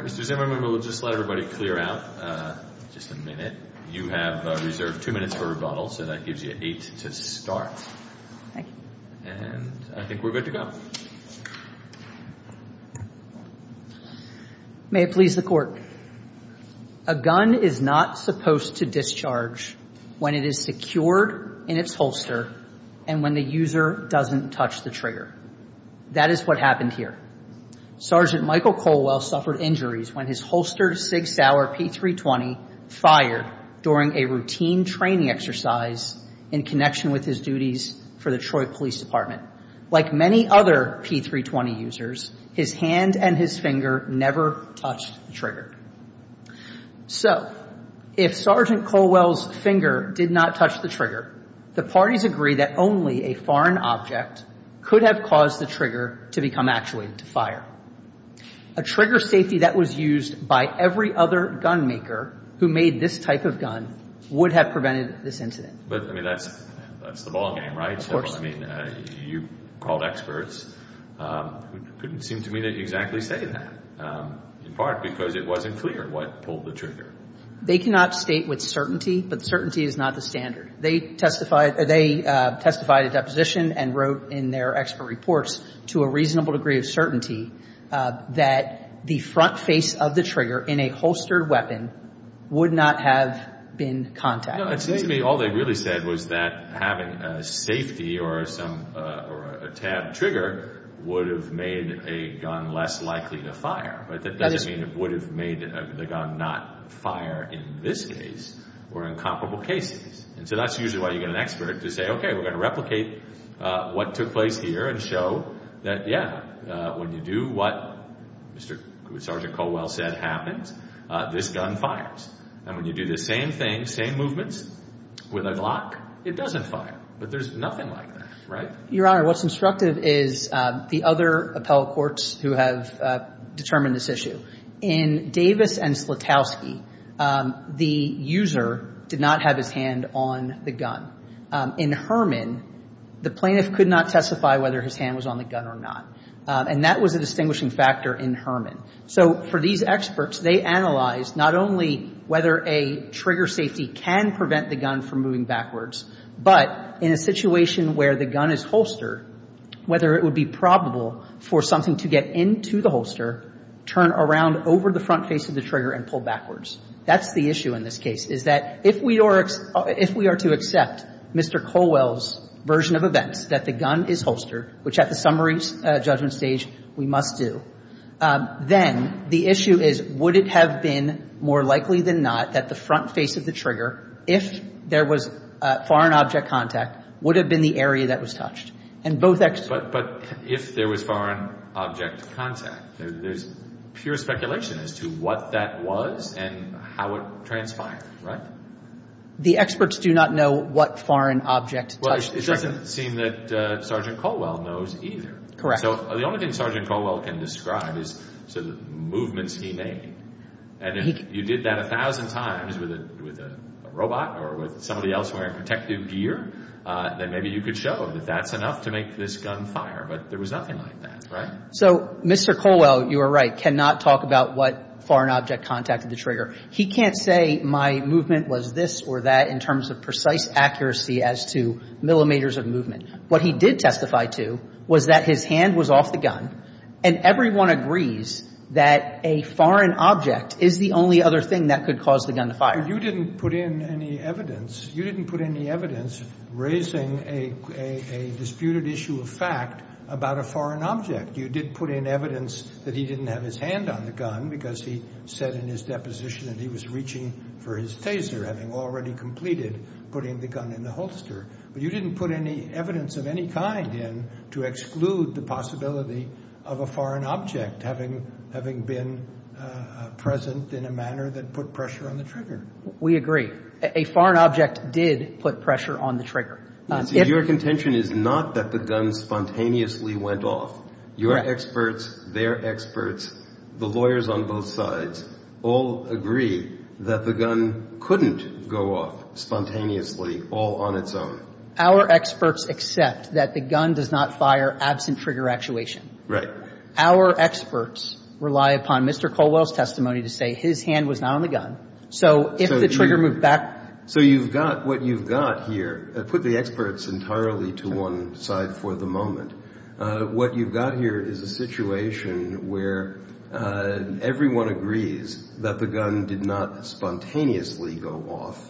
Mr. Zimmerman, we'll just let everybody clear out just a minute. You have reserved two minutes for rebuttal, so that gives you eight to start. Thank you. And I think we're good to go. May it please the Court. A gun is not supposed to discharge when it is secured in its holster and when the user doesn't touch the trigger. That is what happened here. Sergeant Michael Colwell suffered injuries when his holstered Sig Sauer P-320 fired during a routine training exercise in connection with his duties for the Troy Police Department. Like many other P-320 users, his hand and his finger never touched the trigger. So, if Sergeant Colwell's finger did not touch the trigger, the parties agree that only a foreign object could have caused the trigger to become actuated to fire. A trigger safety that was used by every other gunmaker who made this type of gun would have prevented this incident. But, I mean, that's the ballgame, right? Of course. I mean, you called experts who couldn't seem to me to exactly say that, in part because it wasn't clear what pulled the trigger. They cannot state with certainty, but certainty is not the standard. They testified at deposition and wrote in their expert reports, to a reasonable degree of certainty, that the front face of the trigger in a holstered weapon would not have been contacted. It seems to me all they really said was that having a safety or a tabbed trigger would have made a gun less likely to fire. But that doesn't mean it would have made the gun not fire in this case or in comparable cases. And so that's usually why you get an expert to say, okay, we're going to replicate what took place here and show that, yeah, when you do what Sergeant Colwell said happens, this gun fires. And when you do the same thing, same movements, with a lock, it doesn't fire. But there's nothing like that, right? Your Honor, what's instructive is the other appellate courts who have determined this issue. In Davis and Slutowski, the user did not have his hand on the gun. In Herman, the plaintiff could not testify whether his hand was on the gun or not. And that was a distinguishing factor in Herman. So for these experts, they analyzed not only whether a trigger safety can prevent the gun from moving backwards, but in a situation where the gun is holstered, whether it would be probable for something to get into the holster, turn around over the front face of the trigger, and pull backwards. That's the issue in this case, is that if we are to accept Mr. Colwell's version of events, that the gun is holstered, which at the summary judgment stage we must do, then the issue is, would it have been more likely than not that the front face of the trigger, if there was foreign object contact, would have been the area that was touched? And both experts – But if there was foreign object contact, there's pure speculation as to what that was and how it transpired, right? The experts do not know what foreign object touched the trigger. It doesn't seem that Sergeant Colwell knows either. Correct. So the only thing Sergeant Colwell can describe is the movements he made. And if you did that a thousand times with a robot or with somebody else wearing protective gear, then maybe you could show that that's enough to make this gun fire. But there was nothing like that, right? So Mr. Colwell, you are right, cannot talk about what foreign object contacted the trigger. He can't say my movement was this or that in terms of precise accuracy as to millimeters of movement. What he did testify to was that his hand was off the gun, and everyone agrees that a foreign object is the only other thing that could cause the gun to fire. But you didn't put in any evidence. You didn't put any evidence raising a disputed issue of fact about a foreign object. You did put in evidence that he didn't have his hand on the gun because he said in his deposition that he was reaching for his taser, having already completed putting the gun in the holster. But you didn't put any evidence of any kind in to exclude the possibility of a foreign object having been present in a manner that put pressure on the trigger. We agree. A foreign object did put pressure on the trigger. Your contention is not that the gun spontaneously went off. Your experts, their experts, the lawyers on both sides all agree that the gun couldn't go off spontaneously all on its own. Our experts accept that the gun does not fire absent trigger actuation. Right. Our experts rely upon Mr. Colwell's testimony to say his hand was not on the gun. So if the trigger moved back. So you've got what you've got here. Put the experts entirely to one side for the moment. What you've got here is a situation where everyone agrees that the gun did not spontaneously go off.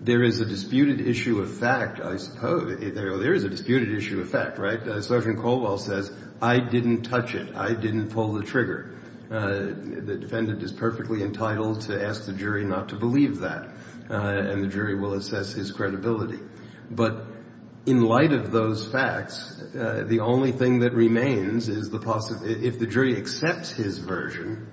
There is a disputed issue of fact, I suppose. There is a disputed issue of fact, right? Sergeant Colwell says, I didn't touch it. I didn't pull the trigger. The defendant is perfectly entitled to ask the jury not to believe that. And the jury will assess his credibility. But in light of those facts, the only thing that remains is the possibility if the jury accepts his version,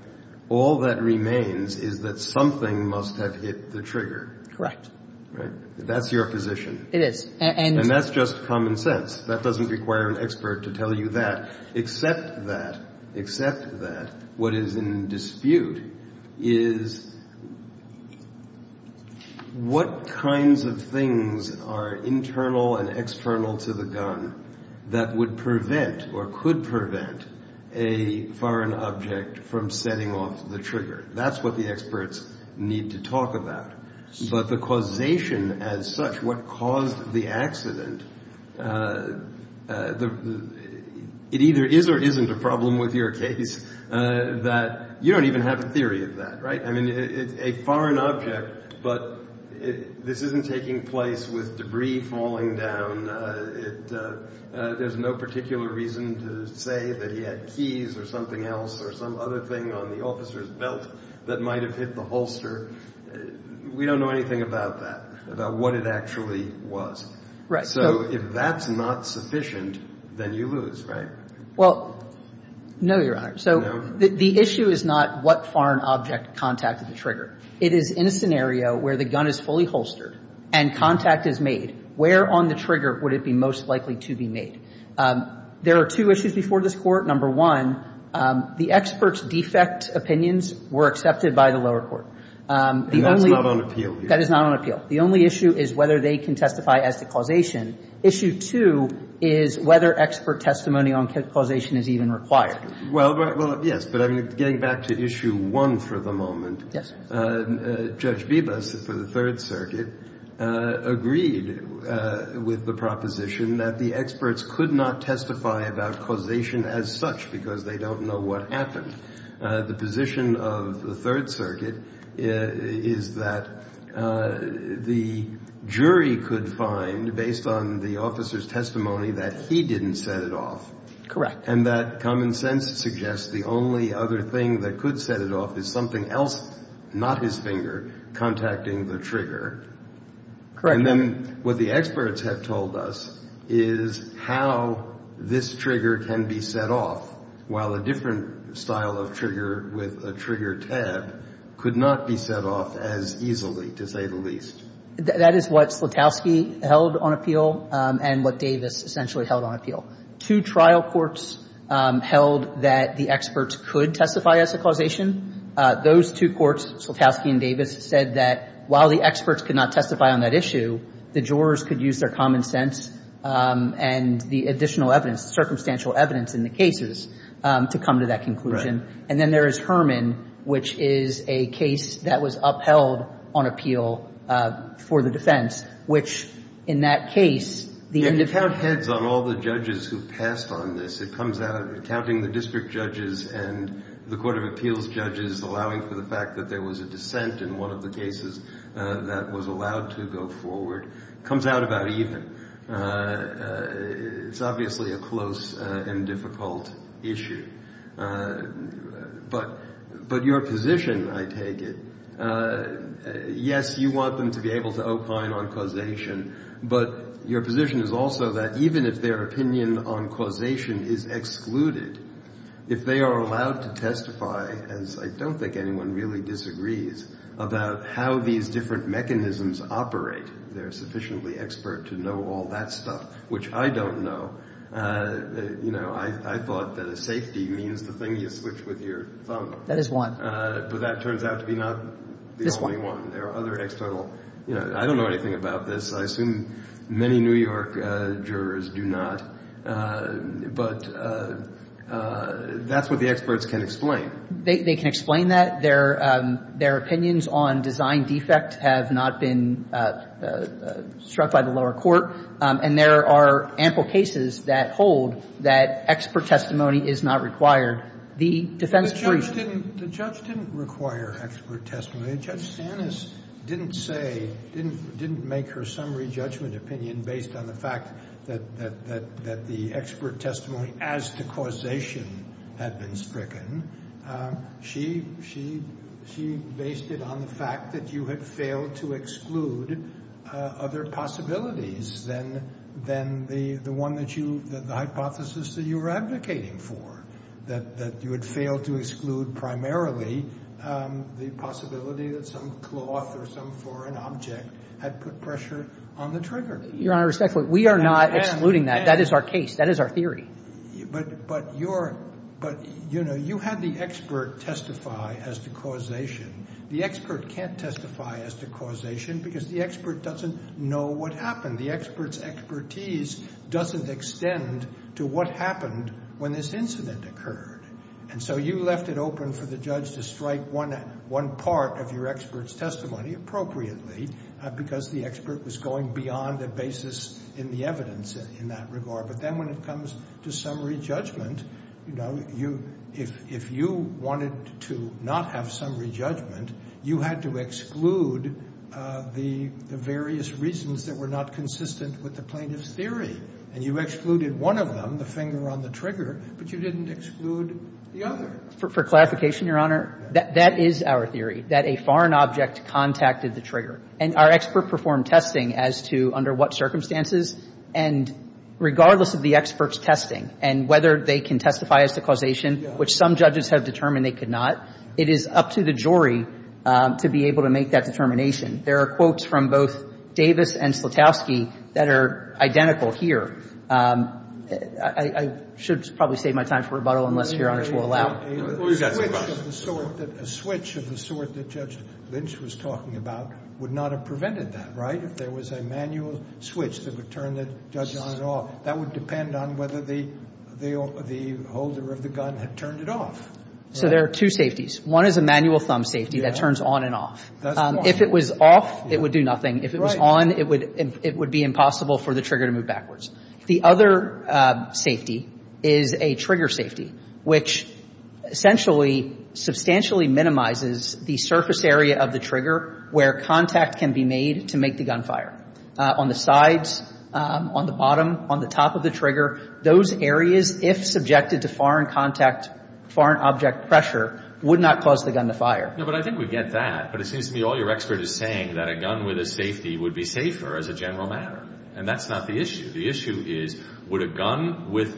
all that remains is that something must have hit the trigger. Correct. Right? That's your position. It is. And that's just common sense. That doesn't require an expert to tell you that. Except that, except that, what is in dispute is what kinds of things are internal and external to the gun that would prevent or could prevent a foreign object from setting off the trigger. That's what the experts need to talk about. But the causation as such, what caused the accident, it either is or isn't a problem with your case that you don't even have a theory of that, right? I mean, it's a foreign object, but this isn't taking place with debris falling down. There's no particular reason to say that he had keys or something else or some other thing on the officer's belt that might have hit the holster. We don't know anything about that, about what it actually was. Right. So if that's not sufficient, then you lose, right? Well, no, Your Honor. No? So the issue is not what foreign object contacted the trigger. It is in a scenario where the gun is fully holstered and contact is made, where on the trigger would it be most likely to be made? There are two issues before this Court. Number one, the experts' defect opinions were accepted by the lower court. And that's not on appeal here. That is not on appeal. The only issue is whether they can testify as to causation. Issue two is whether expert testimony on causation is even required. Well, yes, but I'm getting back to issue one for the moment. Yes. Judge Bibas for the Third Circuit agreed with the proposition that the experts could not testify about causation as such because they don't know what happened. The position of the Third Circuit is that the jury could find, based on the officer's testimony, that he didn't set it off. Correct. And that common sense suggests the only other thing that could set it off is something else, not his finger, contacting the trigger. Correct. And then what the experts have told us is how this trigger can be set off, while a different style of trigger with a trigger tab could not be set off as easily, to say the least. That is what Slutowski held on appeal and what Davis essentially held on appeal. Two trial courts held that the experts could testify as to causation. Those two courts, Slutowski and Davis, said that while the experts could not testify on that issue, the jurors could use their common sense and the additional evidence, the circumstantial evidence in the cases, to come to that conclusion. And then there is Herman, which is a case that was upheld on appeal for the defense, which, in that case, the individual ---- You can count heads on all the judges who passed on this. It comes out of counting the district judges and the court of appeals judges, allowing for the fact that there was a dissent in one of the cases that was allowed to go forward. It comes out about even. It's obviously a close and difficult issue. But your position, I take it, yes, you want them to be able to opine on causation, but your position is also that even if their opinion on causation is excluded, if they are allowed to testify, as I don't think anyone really disagrees, about how these different mechanisms operate, they're sufficiently expert to know all that stuff, which I don't know. You know, I thought that a safety means the thing you switch with your thumb. That is one. But that turns out to be not the only one. There are other external ---- I don't know anything about this. I assume many New York jurors do not. But that's what the experts can explain. They can explain that. Their opinions on design defect have not been struck by the lower court. And there are ample cases that hold that expert testimony is not required. The defense briefs ---- The judge didn't require expert testimony. Judge Sanis didn't say, didn't make her summary judgment opinion based on the fact that the expert testimony as to causation had been stricken. She based it on the fact that you had failed to exclude other possibilities than the one that you ---- the hypothesis that you were advocating for, that you had failed to exclude primarily the possibility that some cloth or some foreign object had put pressure on the trigger. Your Honor, respectfully, we are not excluding that. That is our case. That is our theory. But your ---- but, you know, you had the expert testify as to causation. The expert can't testify as to causation because the expert doesn't know what happened. The expert's expertise doesn't extend to what happened when this incident occurred. And so you left it open for the judge to strike one part of your expert's testimony appropriately because the expert was going beyond the basis in the evidence in that regard. But then when it comes to summary judgment, you know, you ---- if you wanted to not have summary judgment, you had to exclude the various reasons that were not consistent with the plaintiff's And you excluded one of them, the finger on the trigger, but you didn't exclude the other. For clarification, Your Honor, that is our theory, that a foreign object contacted the trigger. And our expert performed testing as to under what circumstances. And regardless of the expert's testing and whether they can testify as to causation, which some judges have determined they could not, it is up to the jury to be able to make that determination. There are quotes from both Davis and Slutowski that are identical here. I should probably save my time for rebuttal unless Your Honor will allow. A switch of the sort that Judge Lynch was talking about would not have prevented that, right, if there was a manual switch that would turn the judge on and off. That would depend on whether the holder of the gun had turned it off. So there are two safeties. One is a manual thumb safety that turns on and off. If it was off, it would do nothing. If it was on, it would be impossible for the trigger to move backwards. The other safety is a trigger safety, which essentially substantially minimizes the surface area of the trigger where contact can be made to make the gunfire. On the sides, on the bottom, on the top of the trigger, those areas, if subjected to foreign contact, foreign object pressure, would not cause the gun to fire. No, but I think we get that. But it seems to me all your expert is saying that a gun with a safety would be safer as a general matter. And that's not the issue. The issue is would a gun with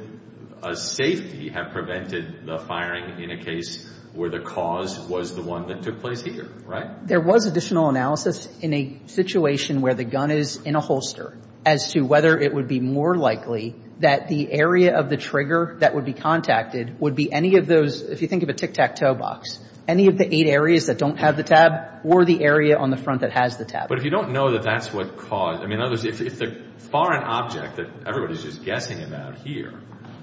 a safety have prevented the firing in a case where the cause was the one that took place here, right? There was additional analysis in a situation where the gun is in a holster as to whether it would be more likely that the area of the trigger that would be contacted would be any of those, if you think of a tic-tac-toe box, any of the eight areas that don't have the tab or the area on the front that has the tab. But if you don't know that that's what caused, I mean, in other words, if the foreign object that everybody's just guessing about here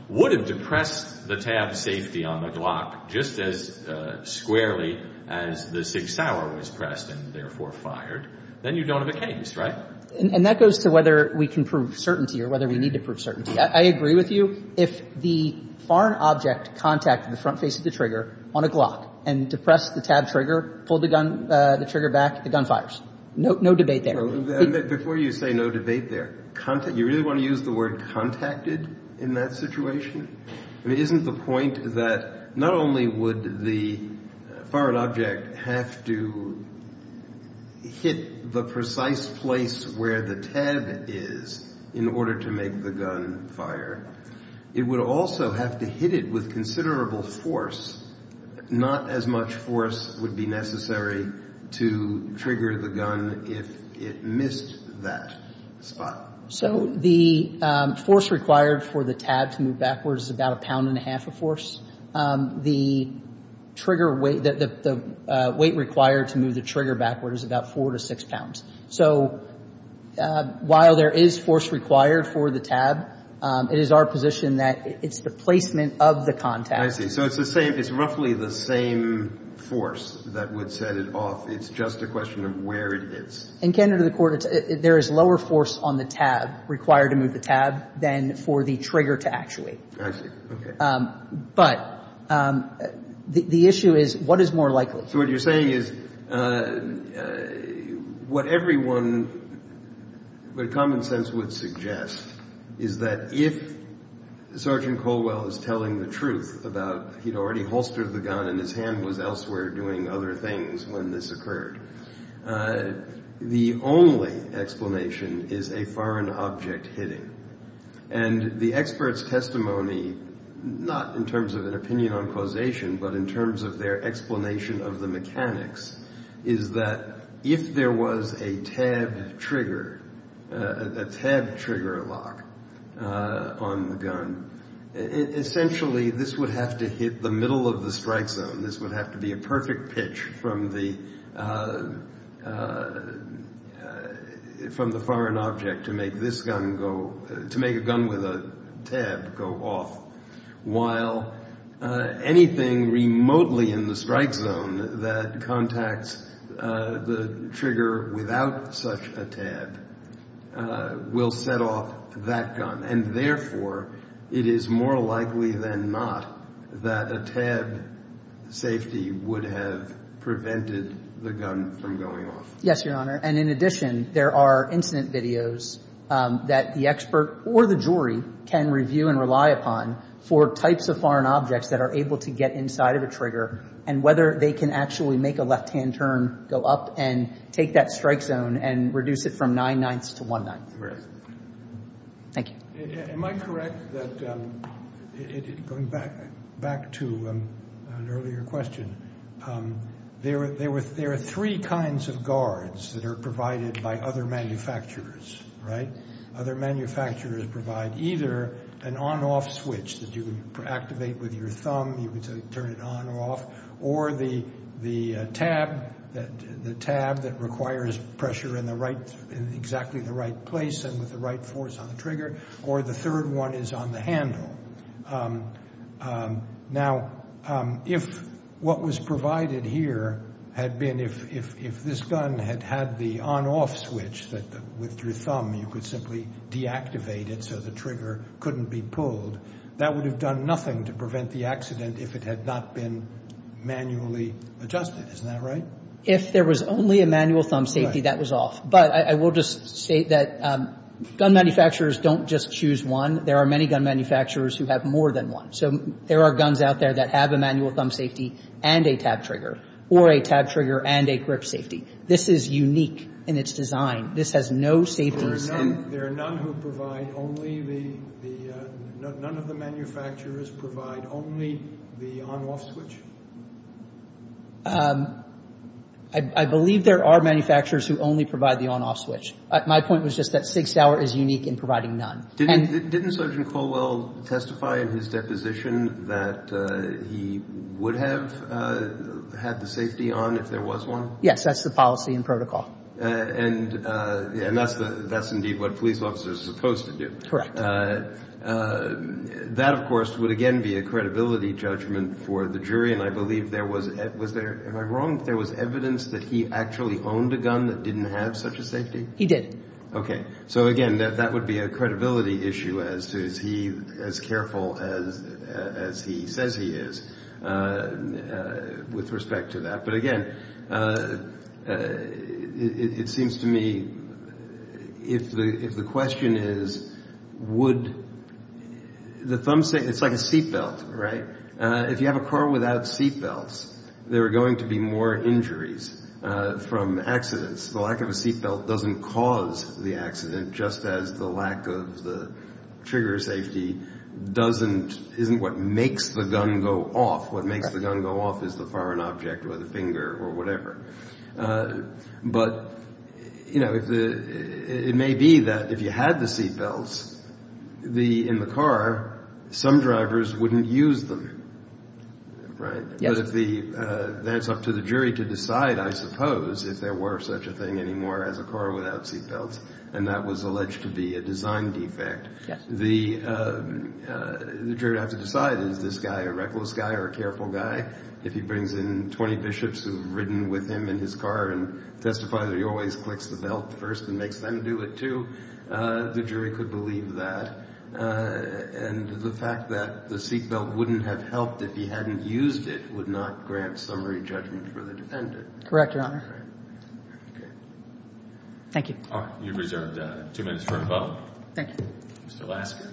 would have depressed the tab safety on the Glock just as squarely as the Sig Sauer was pressed and therefore fired, then you don't have a case, right? And that goes to whether we can prove certainty or whether we need to prove certainty. I agree with you. If the foreign object contacted the front face of the trigger on a Glock and depressed the tab trigger, pulled the gun, the trigger back, the gun fires. No debate there. But before you say no debate there, you really want to use the word contacted in that situation? I mean, isn't the point that not only would the foreign object have to hit the precise place where the tab is in order to make the gun fire, it would also have to hit it with considerable force? Not as much force would be necessary to trigger the gun if it missed that spot. So the force required for the tab to move backwards is about a pound and a half of force. The trigger weight, the weight required to move the trigger backwards is about four to six pounds. So while there is force required for the tab, it is our position that it's the placement of the contact. I see. So it's roughly the same force that would set it off. It's just a question of where it hits. In Canada, there is lower force on the tab required to move the tab than for the trigger to actuate. I see. Okay. But the issue is what is more likely. So what you're saying is what everyone, what common sense would suggest, is that if Sergeant Colwell is telling the truth about he'd already holstered the gun and his hand was elsewhere doing other things when this occurred, the only explanation is a foreign object hitting. And the expert's testimony, not in terms of an opinion on causation, but in terms of their explanation of the mechanics, is that if there was a tab trigger, a tab trigger lock on the gun, essentially this would have to hit the middle of the strike zone. This would have to be a perfect pitch from the foreign object to make this gun go, to make a gun with a tab go off. While anything remotely in the strike zone that contacts the trigger without such a tab will set off that gun. And, therefore, it is more likely than not that a tab safety would have prevented the gun from going off. Yes, Your Honor. And, in addition, there are incident videos that the expert or the jury can review and rely upon for types of foreign objects that are able to get inside of a trigger and whether they can actually make a left-hand turn, go up and take that strike zone and reduce it from nine-ninths to one-ninth. Thank you. Am I correct that, going back to an earlier question, there are three kinds of guards that are provided by other manufacturers, right? Other manufacturers provide either an on-off switch that you can activate with your thumb, you can turn it on or off, or the tab that requires pressure in exactly the right place and with the right force on the trigger, or the third one is on the handle. Now, if what was provided here had been, if this gun had had the on-off switch that, with your thumb, you could simply deactivate it so the trigger couldn't be pulled, that would have done nothing to prevent the accident if it had not been manually adjusted. Isn't that right? If there was only a manual thumb safety, that was off. But I will just say that gun manufacturers don't just choose one. There are many gun manufacturers who have more than one. So there are guns out there that have a manual thumb safety and a tab trigger, or a tab trigger and a grip safety. This is unique in its design. This has no safety. There are none who provide only the, none of the manufacturers provide only the on-off switch? I believe there are manufacturers who only provide the on-off switch. My point was just that Sig Sauer is unique in providing none. Didn't Sergeant Colwell testify in his deposition that he would have had the safety on if there was one? Yes, that's the policy and protocol. And that's indeed what police officers are supposed to do. Correct. That, of course, would again be a credibility judgment for the jury, and I believe there was, was there, am I wrong, that there was evidence that he actually owned a gun that didn't have such a safety? He did. Okay. So, again, that would be a credibility issue as to is he as careful as he says he is with respect to that. But, again, it seems to me if the question is would the thumb safety, it's like a seatbelt, right? If you have a car without seatbelts, there are going to be more injuries from accidents. The lack of a seatbelt doesn't cause the accident, just as the lack of the trigger safety doesn't, isn't what makes the gun go off. What makes the gun go off is the firing object or the finger or whatever. But, you know, it may be that if you had the seatbelts in the car, some drivers wouldn't use them, right? Yes. That's up to the jury to decide, I suppose, if there were such a thing anymore as a car without seatbelts, and that was alleged to be a design defect. Yes. The jury would have to decide is this guy a reckless guy or a careful guy? If he brings in 20 bishops who've ridden with him in his car and testifies that he always clicks the belt first and makes them do it, too, the jury could believe that. And the fact that the seatbelt wouldn't have helped if he hadn't used it would not grant summary judgment for the defendant. Correct, Your Honor. Okay. Thank you. You're reserved two minutes for a vote. Thank you. Mr. Lasker.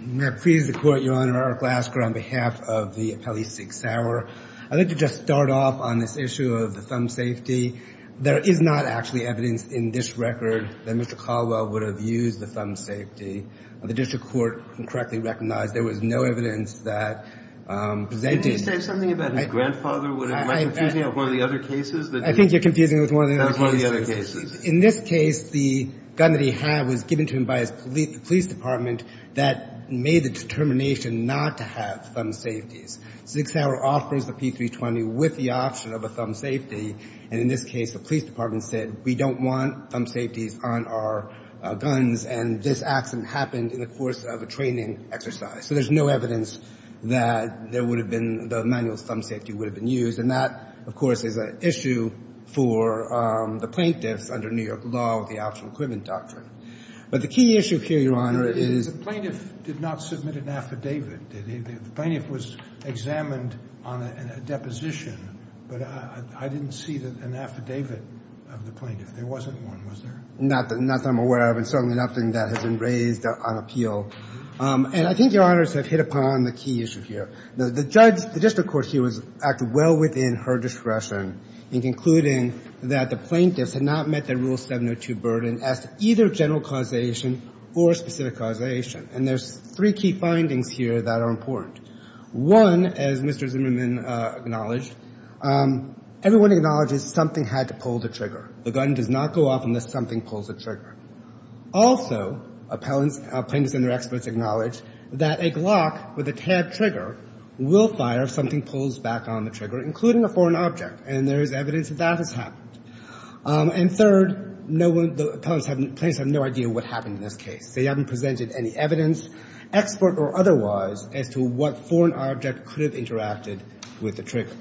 May I please the Court, Your Honor? Art Lasker on behalf of the appellee, Sig Sauer. I'd like to just start off on this issue of the thumb safety. There is not actually evidence in this record that Mr. Caldwell would have used the thumb safety. The district court correctly recognized there was no evidence that presented the thumb safety. Can you say something about his grandfather? Am I confusing you with one of the other cases? I think you're confusing me with one of the other cases. That was one of the other cases. In this case, the gun that he had was given to him by his police department that made the determination not to have thumb safeties. Sig Sauer offers the P320 with the option of a thumb safety. And in this case, the police department said we don't want thumb safeties on our guns, and this accident happened in the course of a training exercise. So there's no evidence that there would have been the manual thumb safety would have been used. And that, of course, is an issue for the plaintiffs under New York law, the optional equipment doctrine. But the key issue here, Your Honor, is the plaintiff did not submit an affidavit, did he? The plaintiff was examined on a deposition, but I didn't see an affidavit of the plaintiff. There wasn't one, was there? Not that I'm aware of, and certainly nothing that has been raised on appeal. And I think, Your Honor, it's hit upon the key issue here. The judge, the district court here, was acting well within her discretion in concluding that the plaintiffs had not met the Rule 702 burden as to either general causation or specific causation. And there's three key findings here that are important. One, as Mr. Zimmerman acknowledged, everyone acknowledges something had to pull the trigger. The gun does not go off unless something pulls the trigger. Also, appellants, plaintiffs and their experts acknowledge that a Glock with a tabbed trigger will fire if something pulls back on the trigger, including a foreign object. And there is evidence that that has happened. And third, no one, the plaintiffs have no idea what happened in this case. They haven't presented any evidence, expert or otherwise, as to what foreign object could have interacted with the trigger.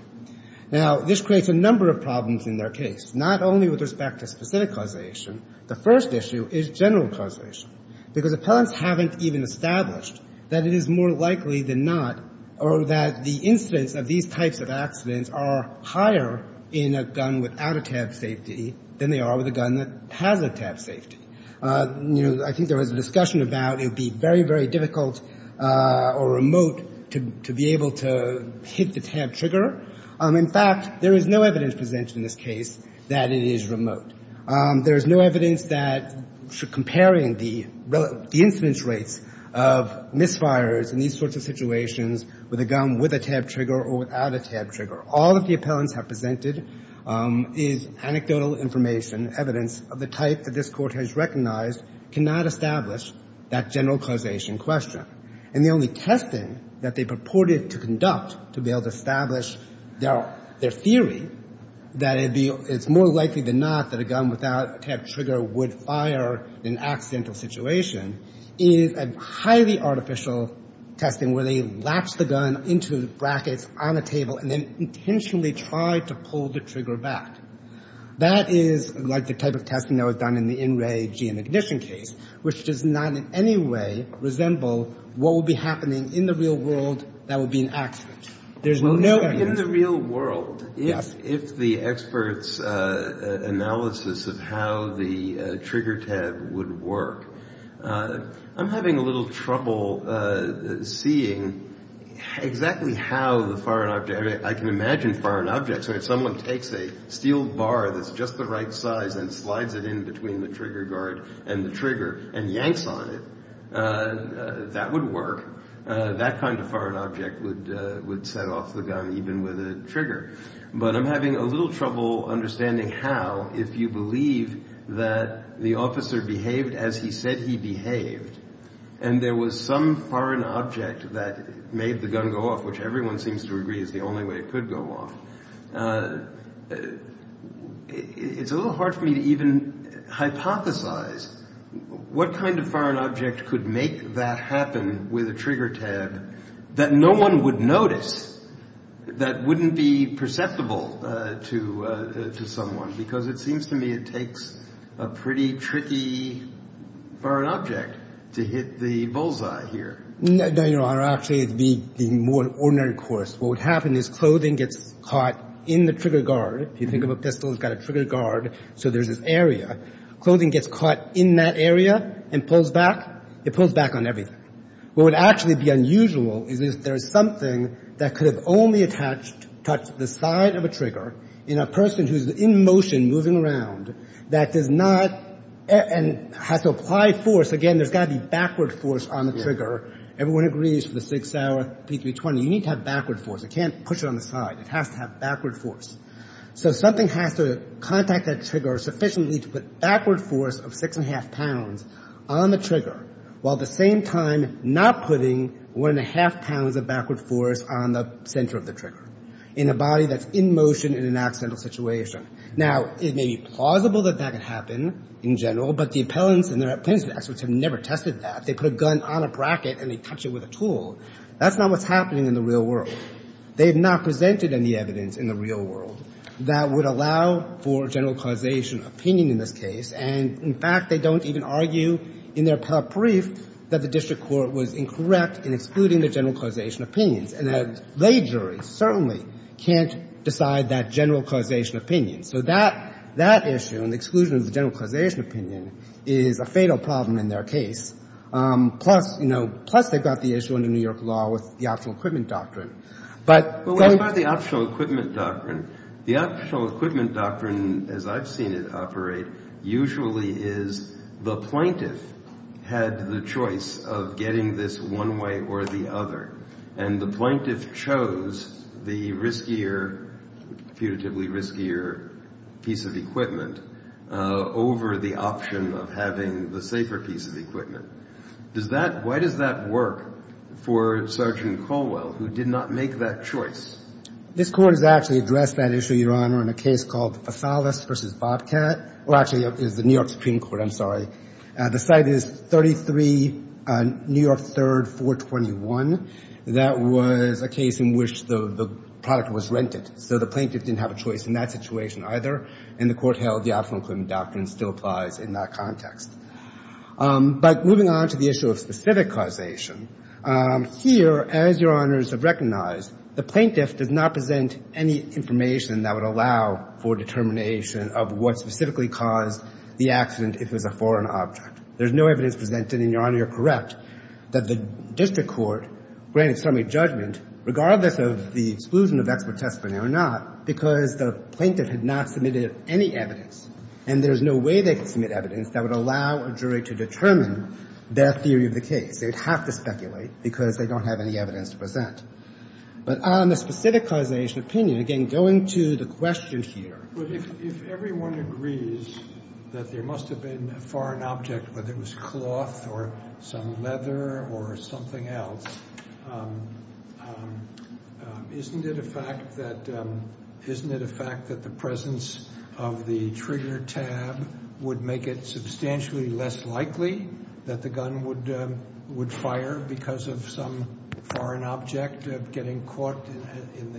Now, this creates a number of problems in their case, not only with respect to specific causation. The first issue is general causation, because appellants haven't even established that it is more likely than not or that the incidents of these types of accidents are higher in a gun without a tabbed safety than they are with a gun that has a tabbed safety. You know, I think there was a discussion about it would be very, very difficult or remote to be able to hit the tabbed trigger. In fact, there is no evidence presented in this case that it is remote. There is no evidence that, comparing the incidence rates of misfires in these sorts of situations with a gun with a tabbed trigger or without a tabbed trigger, all that the appellants have presented is anecdotal information, evidence of the type that this Court has recognized cannot establish that general causation question. And the only testing that they purported to conduct to be able to establish their theory that it's more likely than not that a gun without a tabbed trigger would fire in an accidental situation is a highly artificial testing where they latch the gun into brackets on a table and then intentionally try to pull the trigger back. That is like the type of testing that was done in the in-ray GM ignition case, which does not in any way resemble what would be happening in the real world that would be an accident. There's no evidence. In the real world, if the experts' analysis of how the trigger tab would work, I'm having a little trouble seeing exactly how the firing object – I can imagine firing objects where if someone takes a steel bar that's just the right size and slides it in between the trigger guard and the trigger and yanks on it, that would work. That kind of firing object would set off the gun even with a trigger. But I'm having a little trouble understanding how, if you believe that the officer behaved as he said he behaved and there was some firing object that made the gun go off, which everyone seems to agree is the only way it could go off, it's a little hard for me to even hypothesize what kind of firing object could make that happen with a trigger tab that no one would notice, that wouldn't be perceptible to someone, because it seems to me it takes a pretty tricky firing object to hit the bullseye here. No, Your Honor, actually it would be the more ordinary course. What would happen is clothing gets caught in the trigger guard. If you think of a pistol, it's got a trigger guard, so there's this area. Clothing gets caught in that area and pulls back. It pulls back on everything. What would actually be unusual is if there's something that could have only touched the side of a trigger in a person who's in motion moving around that does not and has to apply force. Again, there's got to be backward force on the trigger. Everyone agrees for the six-hour P320 you need to have backward force. It can't push it on the side. It has to have backward force. So something has to contact that trigger sufficiently to put backward force of six and a half pounds on the trigger while at the same time not putting one and a half pounds of backward force on the center of the trigger in a body that's in motion in an accidental situation. Now, it may be plausible that that could happen in general, but the appellants and their plaintiffs' experts have never tested that. They put a gun on a bracket and they touch it with a tool. That's not what's happening in the real world. They have not presented any evidence in the real world that would allow for general causation opinion in this case. And, in fact, they don't even argue in their appellate brief that the district court was incorrect in excluding the general causation opinions. And a lay jury certainly can't decide that general causation opinion. So that issue, an exclusion of the general causation opinion, is a fatal problem in their case. Plus, you know, plus they've got the issue under New York law with the optional equipment doctrine. But so we've got the optional equipment doctrine. The optional equipment doctrine, as I've seen it operate, usually is the plaintiff had the choice of getting this one way or the other. And the plaintiff chose the riskier, putatively riskier piece of equipment over the option of having the safer piece of equipment. Does that why does that work for Sergeant Colwell, who did not make that choice? This Court has actually addressed that issue, Your Honor, in a case called Fasales v. Bobcat. Well, actually, it was the New York Supreme Court. I'm sorry. The site is 33 New York 3rd, 421. That was a case in which the product was rented. So the plaintiff didn't have a choice in that situation either. And the Court held the optional equipment doctrine still applies in that context. But moving on to the issue of specific causation, here, as Your Honors have recognized, the plaintiff does not present any information that would allow for determination of what specifically caused the accident if it was a foreign object. There's no evidence presented. And, Your Honor, you're correct that the district court granted summary judgment, regardless of the exclusion of expert testimony or not, because the plaintiff had not submitted any evidence, and there's no way they could submit evidence that would allow a jury to determine their theory of the case. They would have to speculate because they don't have any evidence to present. But on the specific causation opinion, again, going to the question here. If everyone agrees that there must have been a foreign object, whether it was cloth or some leather or something else, isn't it a fact that the presence of the trigger tab would make it substantially less likely that the gun would fire because of some foreign object getting caught in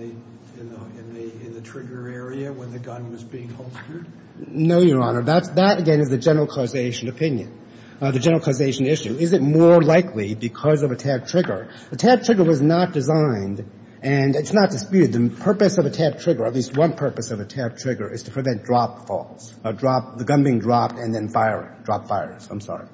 the trigger area when the gun was being holstered? No, Your Honor. That, again, is the general causation opinion, the general causation issue. Is it more likely because of a tabbed trigger? A tabbed trigger was not designed and it's not disputed. The purpose of a tabbed trigger, at least one purpose of a tabbed trigger, is to prevent drop falls, the gun being dropped and then firing, drop fires. I'm sorry.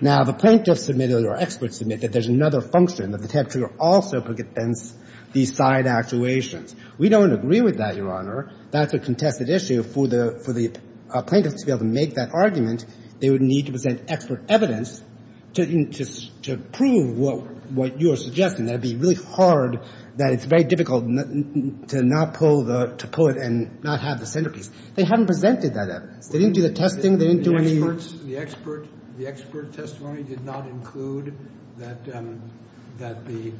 Now, the plaintiffs submitted or experts submitted that there's another function of the tabbed trigger also prevents these side actuations. We don't agree with that, Your Honor. That's a contested issue. For the plaintiffs to be able to make that argument, they would need to present expert evidence to prove what you are suggesting. That would be really hard, that it's very difficult to not pull the – to pull it and not have the centerpiece. They haven't presented that evidence. They didn't do the testing. They didn't do any – The expert testimony did not include that the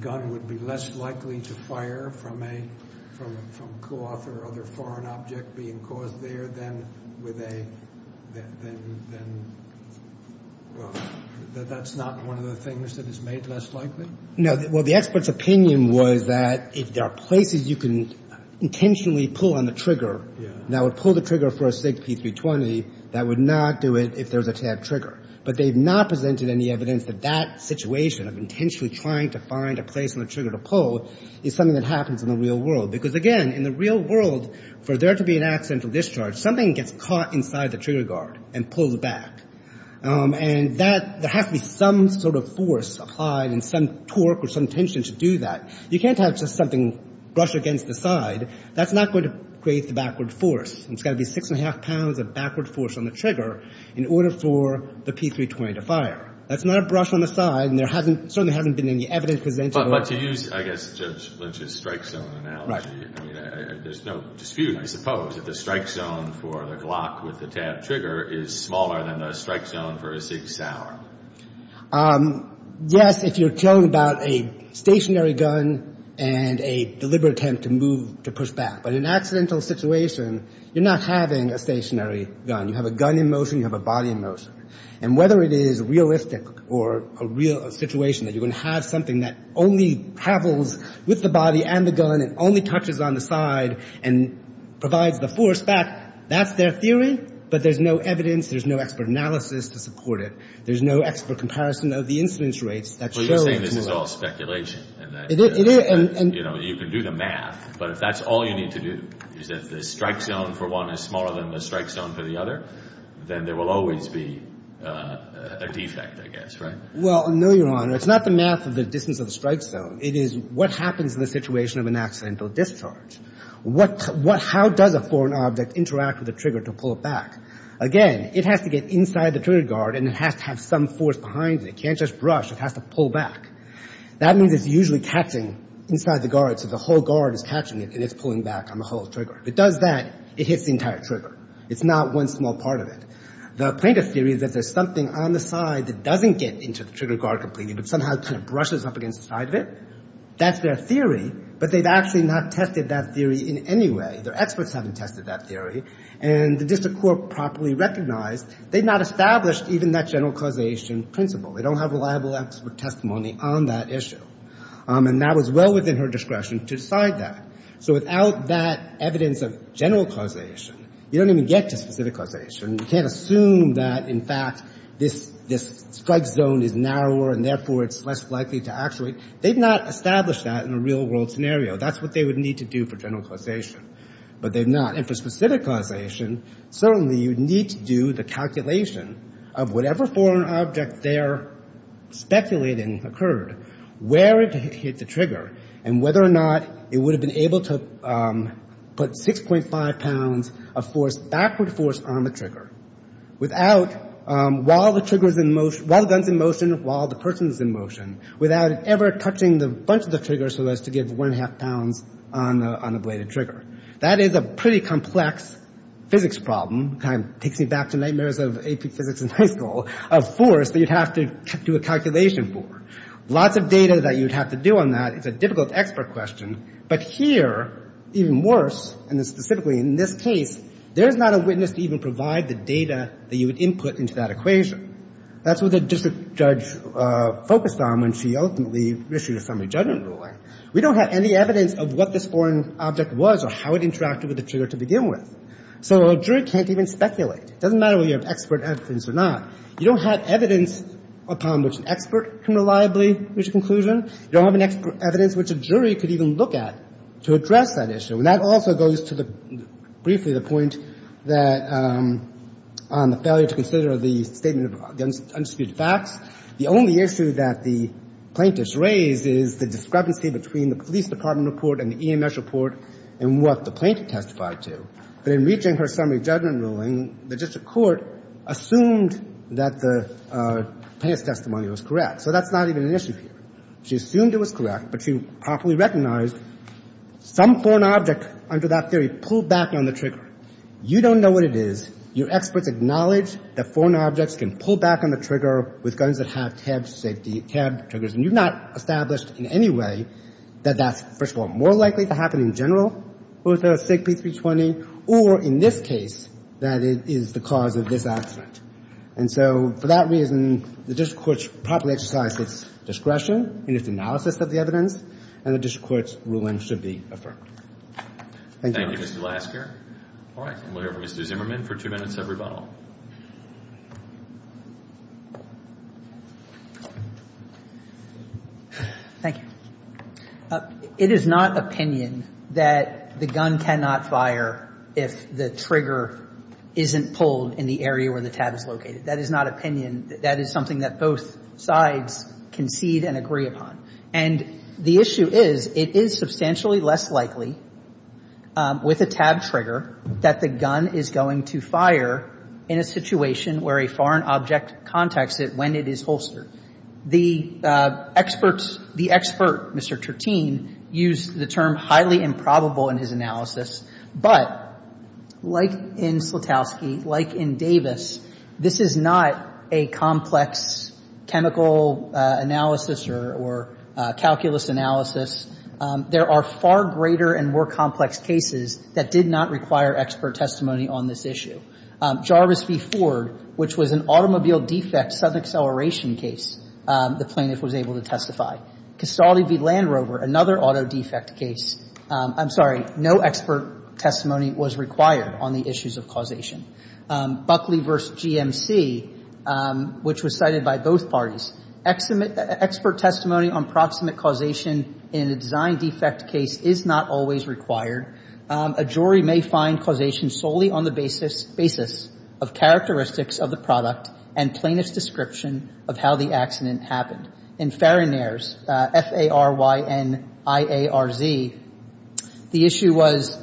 gun would be less likely to fire from a – from cloth or other foreign object being caused there than with a – than, well, that's not one of the things that is made less likely? No. Well, the expert's opinion was that if there are places you can intentionally pull on the trigger that would pull the trigger for a SIG P320, that would not do it if there's a tabbed trigger. But they've not presented any evidence that that situation of intentionally trying to find a place on the trigger to pull is something that happens in the real world. Because, again, in the real world, for there to be an accidental discharge, something gets caught inside the trigger guard and pulls back. And that – there has to be some sort of force applied and some torque or some tension to do that. You can't have just something brush against the side. That's not going to create the backward force. And it's got to be six and a half pounds of backward force on the trigger in order for the P320 to fire. That's not a brush on the side, and there hasn't – certainly hasn't been any evidence presented or – But to use, I guess, Judge Lynch's strike zone analogy – I mean, there's no dispute, I suppose, that the strike zone for the Glock with the tabbed trigger is smaller than the strike zone for a SIG Sauer. Yes, if you're talking about a stationary gun and a deliberate attempt to move – to push back. But in an accidental situation, you're not having a stationary gun. You have a gun in motion. You have a body in motion. And whether it is realistic or a real situation that you're going to have something that only travels with the body and the gun and only touches on the side and provides the force back, that's their theory. But there's no evidence. There's no expert analysis to support it. There's no expert comparison of the incidence rates that show – But you're saying this is all speculation and that – It is – You know, you can do the math, but if that's all you need to do, is if the strike zone for one is smaller than the strike zone for the other, then there will always be a defect, I guess, right? Well, no, Your Honor. It's not the math of the distance of the strike zone. It is what happens in the situation of an accidental discharge. What – how does a foreign object interact with a trigger to pull it back? Again, it has to get inside the trigger guard and it has to have some force behind it. It can't just brush. It has to pull back. That means it's usually catching inside the guard, so the whole guard is catching it and it's pulling back on the whole trigger. If it does that, it hits the entire trigger. It's not one small part of it. The plaintiff's theory is that there's something on the side that doesn't get into the trigger guard completely but somehow kind of brushes up against the side of it. That's their theory. But they've actually not tested that theory in any way. Their experts haven't tested that theory. And the district court properly recognized they've not established even that general causation principle. They don't have reliable expert testimony on that issue. And that was well within her discretion to decide that. So without that evidence of general causation, you don't even get to specific causation. You can't assume that, in fact, this strike zone is narrower and therefore it's less likely to actuate. They've not established that in a real-world scenario. That's what they would need to do for general causation. But they've not. And for specific causation, certainly you need to do the calculation of whatever foreign object they're speculating occurred, where it hit the trigger, and whether or not it would have been able to put 6.5 pounds of backward force on the trigger while the gun's in motion, while the person's in motion, without it ever touching a bunch of the triggers so as to give 1.5 pounds on the bladed trigger. That is a pretty complex physics problem. It kind of takes me back to nightmares of physics in high school, of force that you'd have to do a calculation for. Lots of data that you'd have to do on that. It's a difficult expert question. But here, even worse, and specifically in this case, there's not a witness to even provide the data that you would input into that equation. That's what the district judge focused on when she ultimately issued a summary judgment ruling. We don't have any evidence of what this foreign object was or how it interacted with the trigger to begin with. So a jury can't even speculate. It doesn't matter whether you have expert evidence or not. You don't have evidence upon which an expert can reliably reach a conclusion. You don't have evidence which a jury could even look at to address that issue. And that also goes to briefly the point that on the failure to consider the statement of the undisputed facts, the only issue that the plaintiff's raised is the discrepancy between the police department report and the EMS report and what the plaintiff testified to. But in reaching her summary judgment ruling, the district court assumed that the plaintiff's testimony was correct. So that's not even an issue here. She assumed it was correct, but she properly recognized some foreign object under that theory pulled back on the trigger. You don't know what it is. Your experts acknowledge that foreign objects can pull back on the trigger with guns that have tabbed safety, tabbed triggers. And you've not established in any way that that's, first of all, more likely to happen in general with a SIG P320 or in this case that it is the cause of this accident. And so for that reason, the district court should properly exercise its discretion in its analysis of the evidence, and the district court's ruling should be affirmed. Thank you. Thank you, Mr. Lasker. All right. We'll hear from Mr. Zimmerman for two minutes of rebuttal. Thank you. It is not opinion that the gun cannot fire if the trigger isn't pulled in the area where the tab is located. That is not opinion. That is something that both sides concede and agree upon. And the issue is, it is substantially less likely with a tab trigger that the gun is going to fire in a situation where a foreign object contacts it when it is holstered. The experts, the expert, Mr. Tertin, used the term highly improbable in his analysis, but like in Slutowski, like in Davis, this is not a complex chemical analysis or calculus analysis. There are far greater and more complex cases that did not require expert testimony on this issue. Jarvis v. Ford, which was an automobile defect sudden acceleration case, the plaintiff was able to testify. Castelli v. Land Rover, another auto defect case. I'm sorry. No expert testimony was required on the issues of causation. Buckley v. GMC, which was cited by both parties. Expert testimony on proximate causation in a design defect case is not always required. A jury may find causation solely on the basis of characteristics of the product and plaintiff's description of how the accident happened. In Fariner's, F-A-R-Y-N-I-A-R-Z, the issue was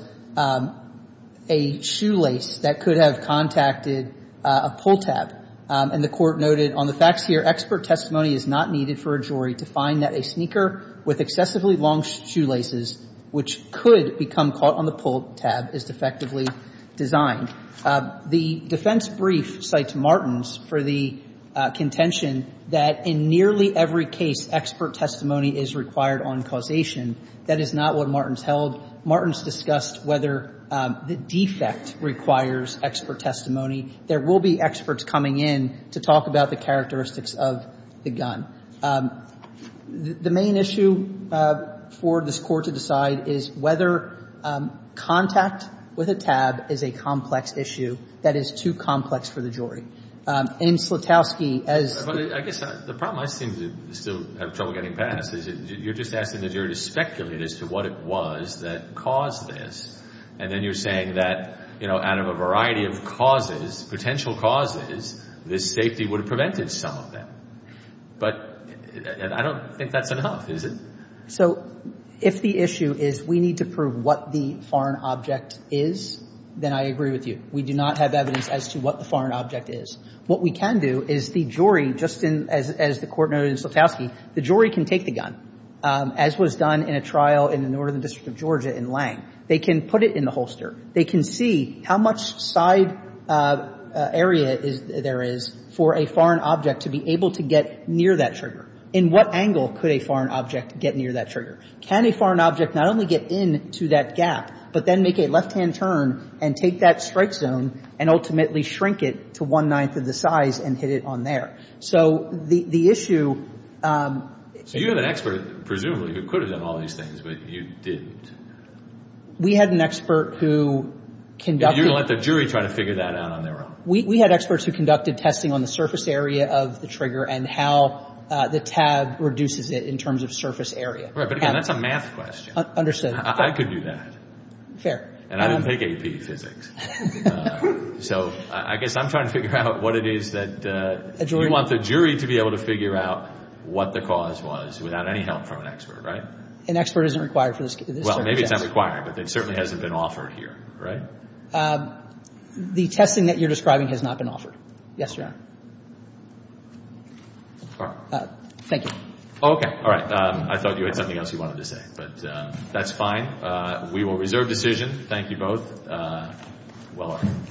a shoelace that could have contacted a pull tab. And the Court noted on the facts here, expert testimony is not needed for a jury to find that a sneaker with excessively long shoelaces, which could become caught on the pull tab, is defectively designed. The defense brief cites Martens for the contention that in nearly every case, expert testimony is required on causation. That is not what Martens held. Martens discussed whether the defect requires expert testimony. There will be experts coming in to talk about the characteristics of the gun. The main issue for this Court to decide is whether contact with a tab is a complex issue that is too complex for the jury. In Slutowski, as the ---- But I guess the problem I seem to still have trouble getting past is you're just asking the jury to speculate as to what it was that caused this, and then you're saying that, you know, out of a variety of causes, potential causes, this safety would have prevented some of them. But I don't think that's enough, is it? So if the issue is we need to prove what the foreign object is, then I agree with you. We do not have evidence as to what the foreign object is. What we can do is the jury, just as the Court noted in Slutowski, the jury can take the gun, as was done in a trial in the Northern District of Georgia in Lange. They can put it in the holster. They can see how much side area there is for a foreign object to be able to get near that trigger. In what angle could a foreign object get near that trigger? Can a foreign object not only get into that gap, but then make a left-hand turn and take that strike zone and ultimately shrink it to one-ninth of the size and hit it on there? So the issue ---- So you had an expert, presumably, who could have done all these things, but you didn't. We had an expert who conducted ---- You're going to let the jury try to figure that out on their own. We had experts who conducted testing on the surface area of the trigger and how the tab reduces it in terms of surface area. Right. But again, that's a math question. Understood. I could do that. Fair. And I didn't take AP Physics. So I guess I'm trying to figure out what it is that you want the jury to be able to figure out what the cause was without any help from an expert, right? An expert isn't required for this case. Well, maybe it's not required, but it certainly hasn't been offered here, right? The testing that you're describing has not been offered. Yes, Your Honor. Thank you. Okay. All right. I thought you had something else you wanted to say, but that's fine. We will reserve decision. Thank you both. Well earned. Thank you.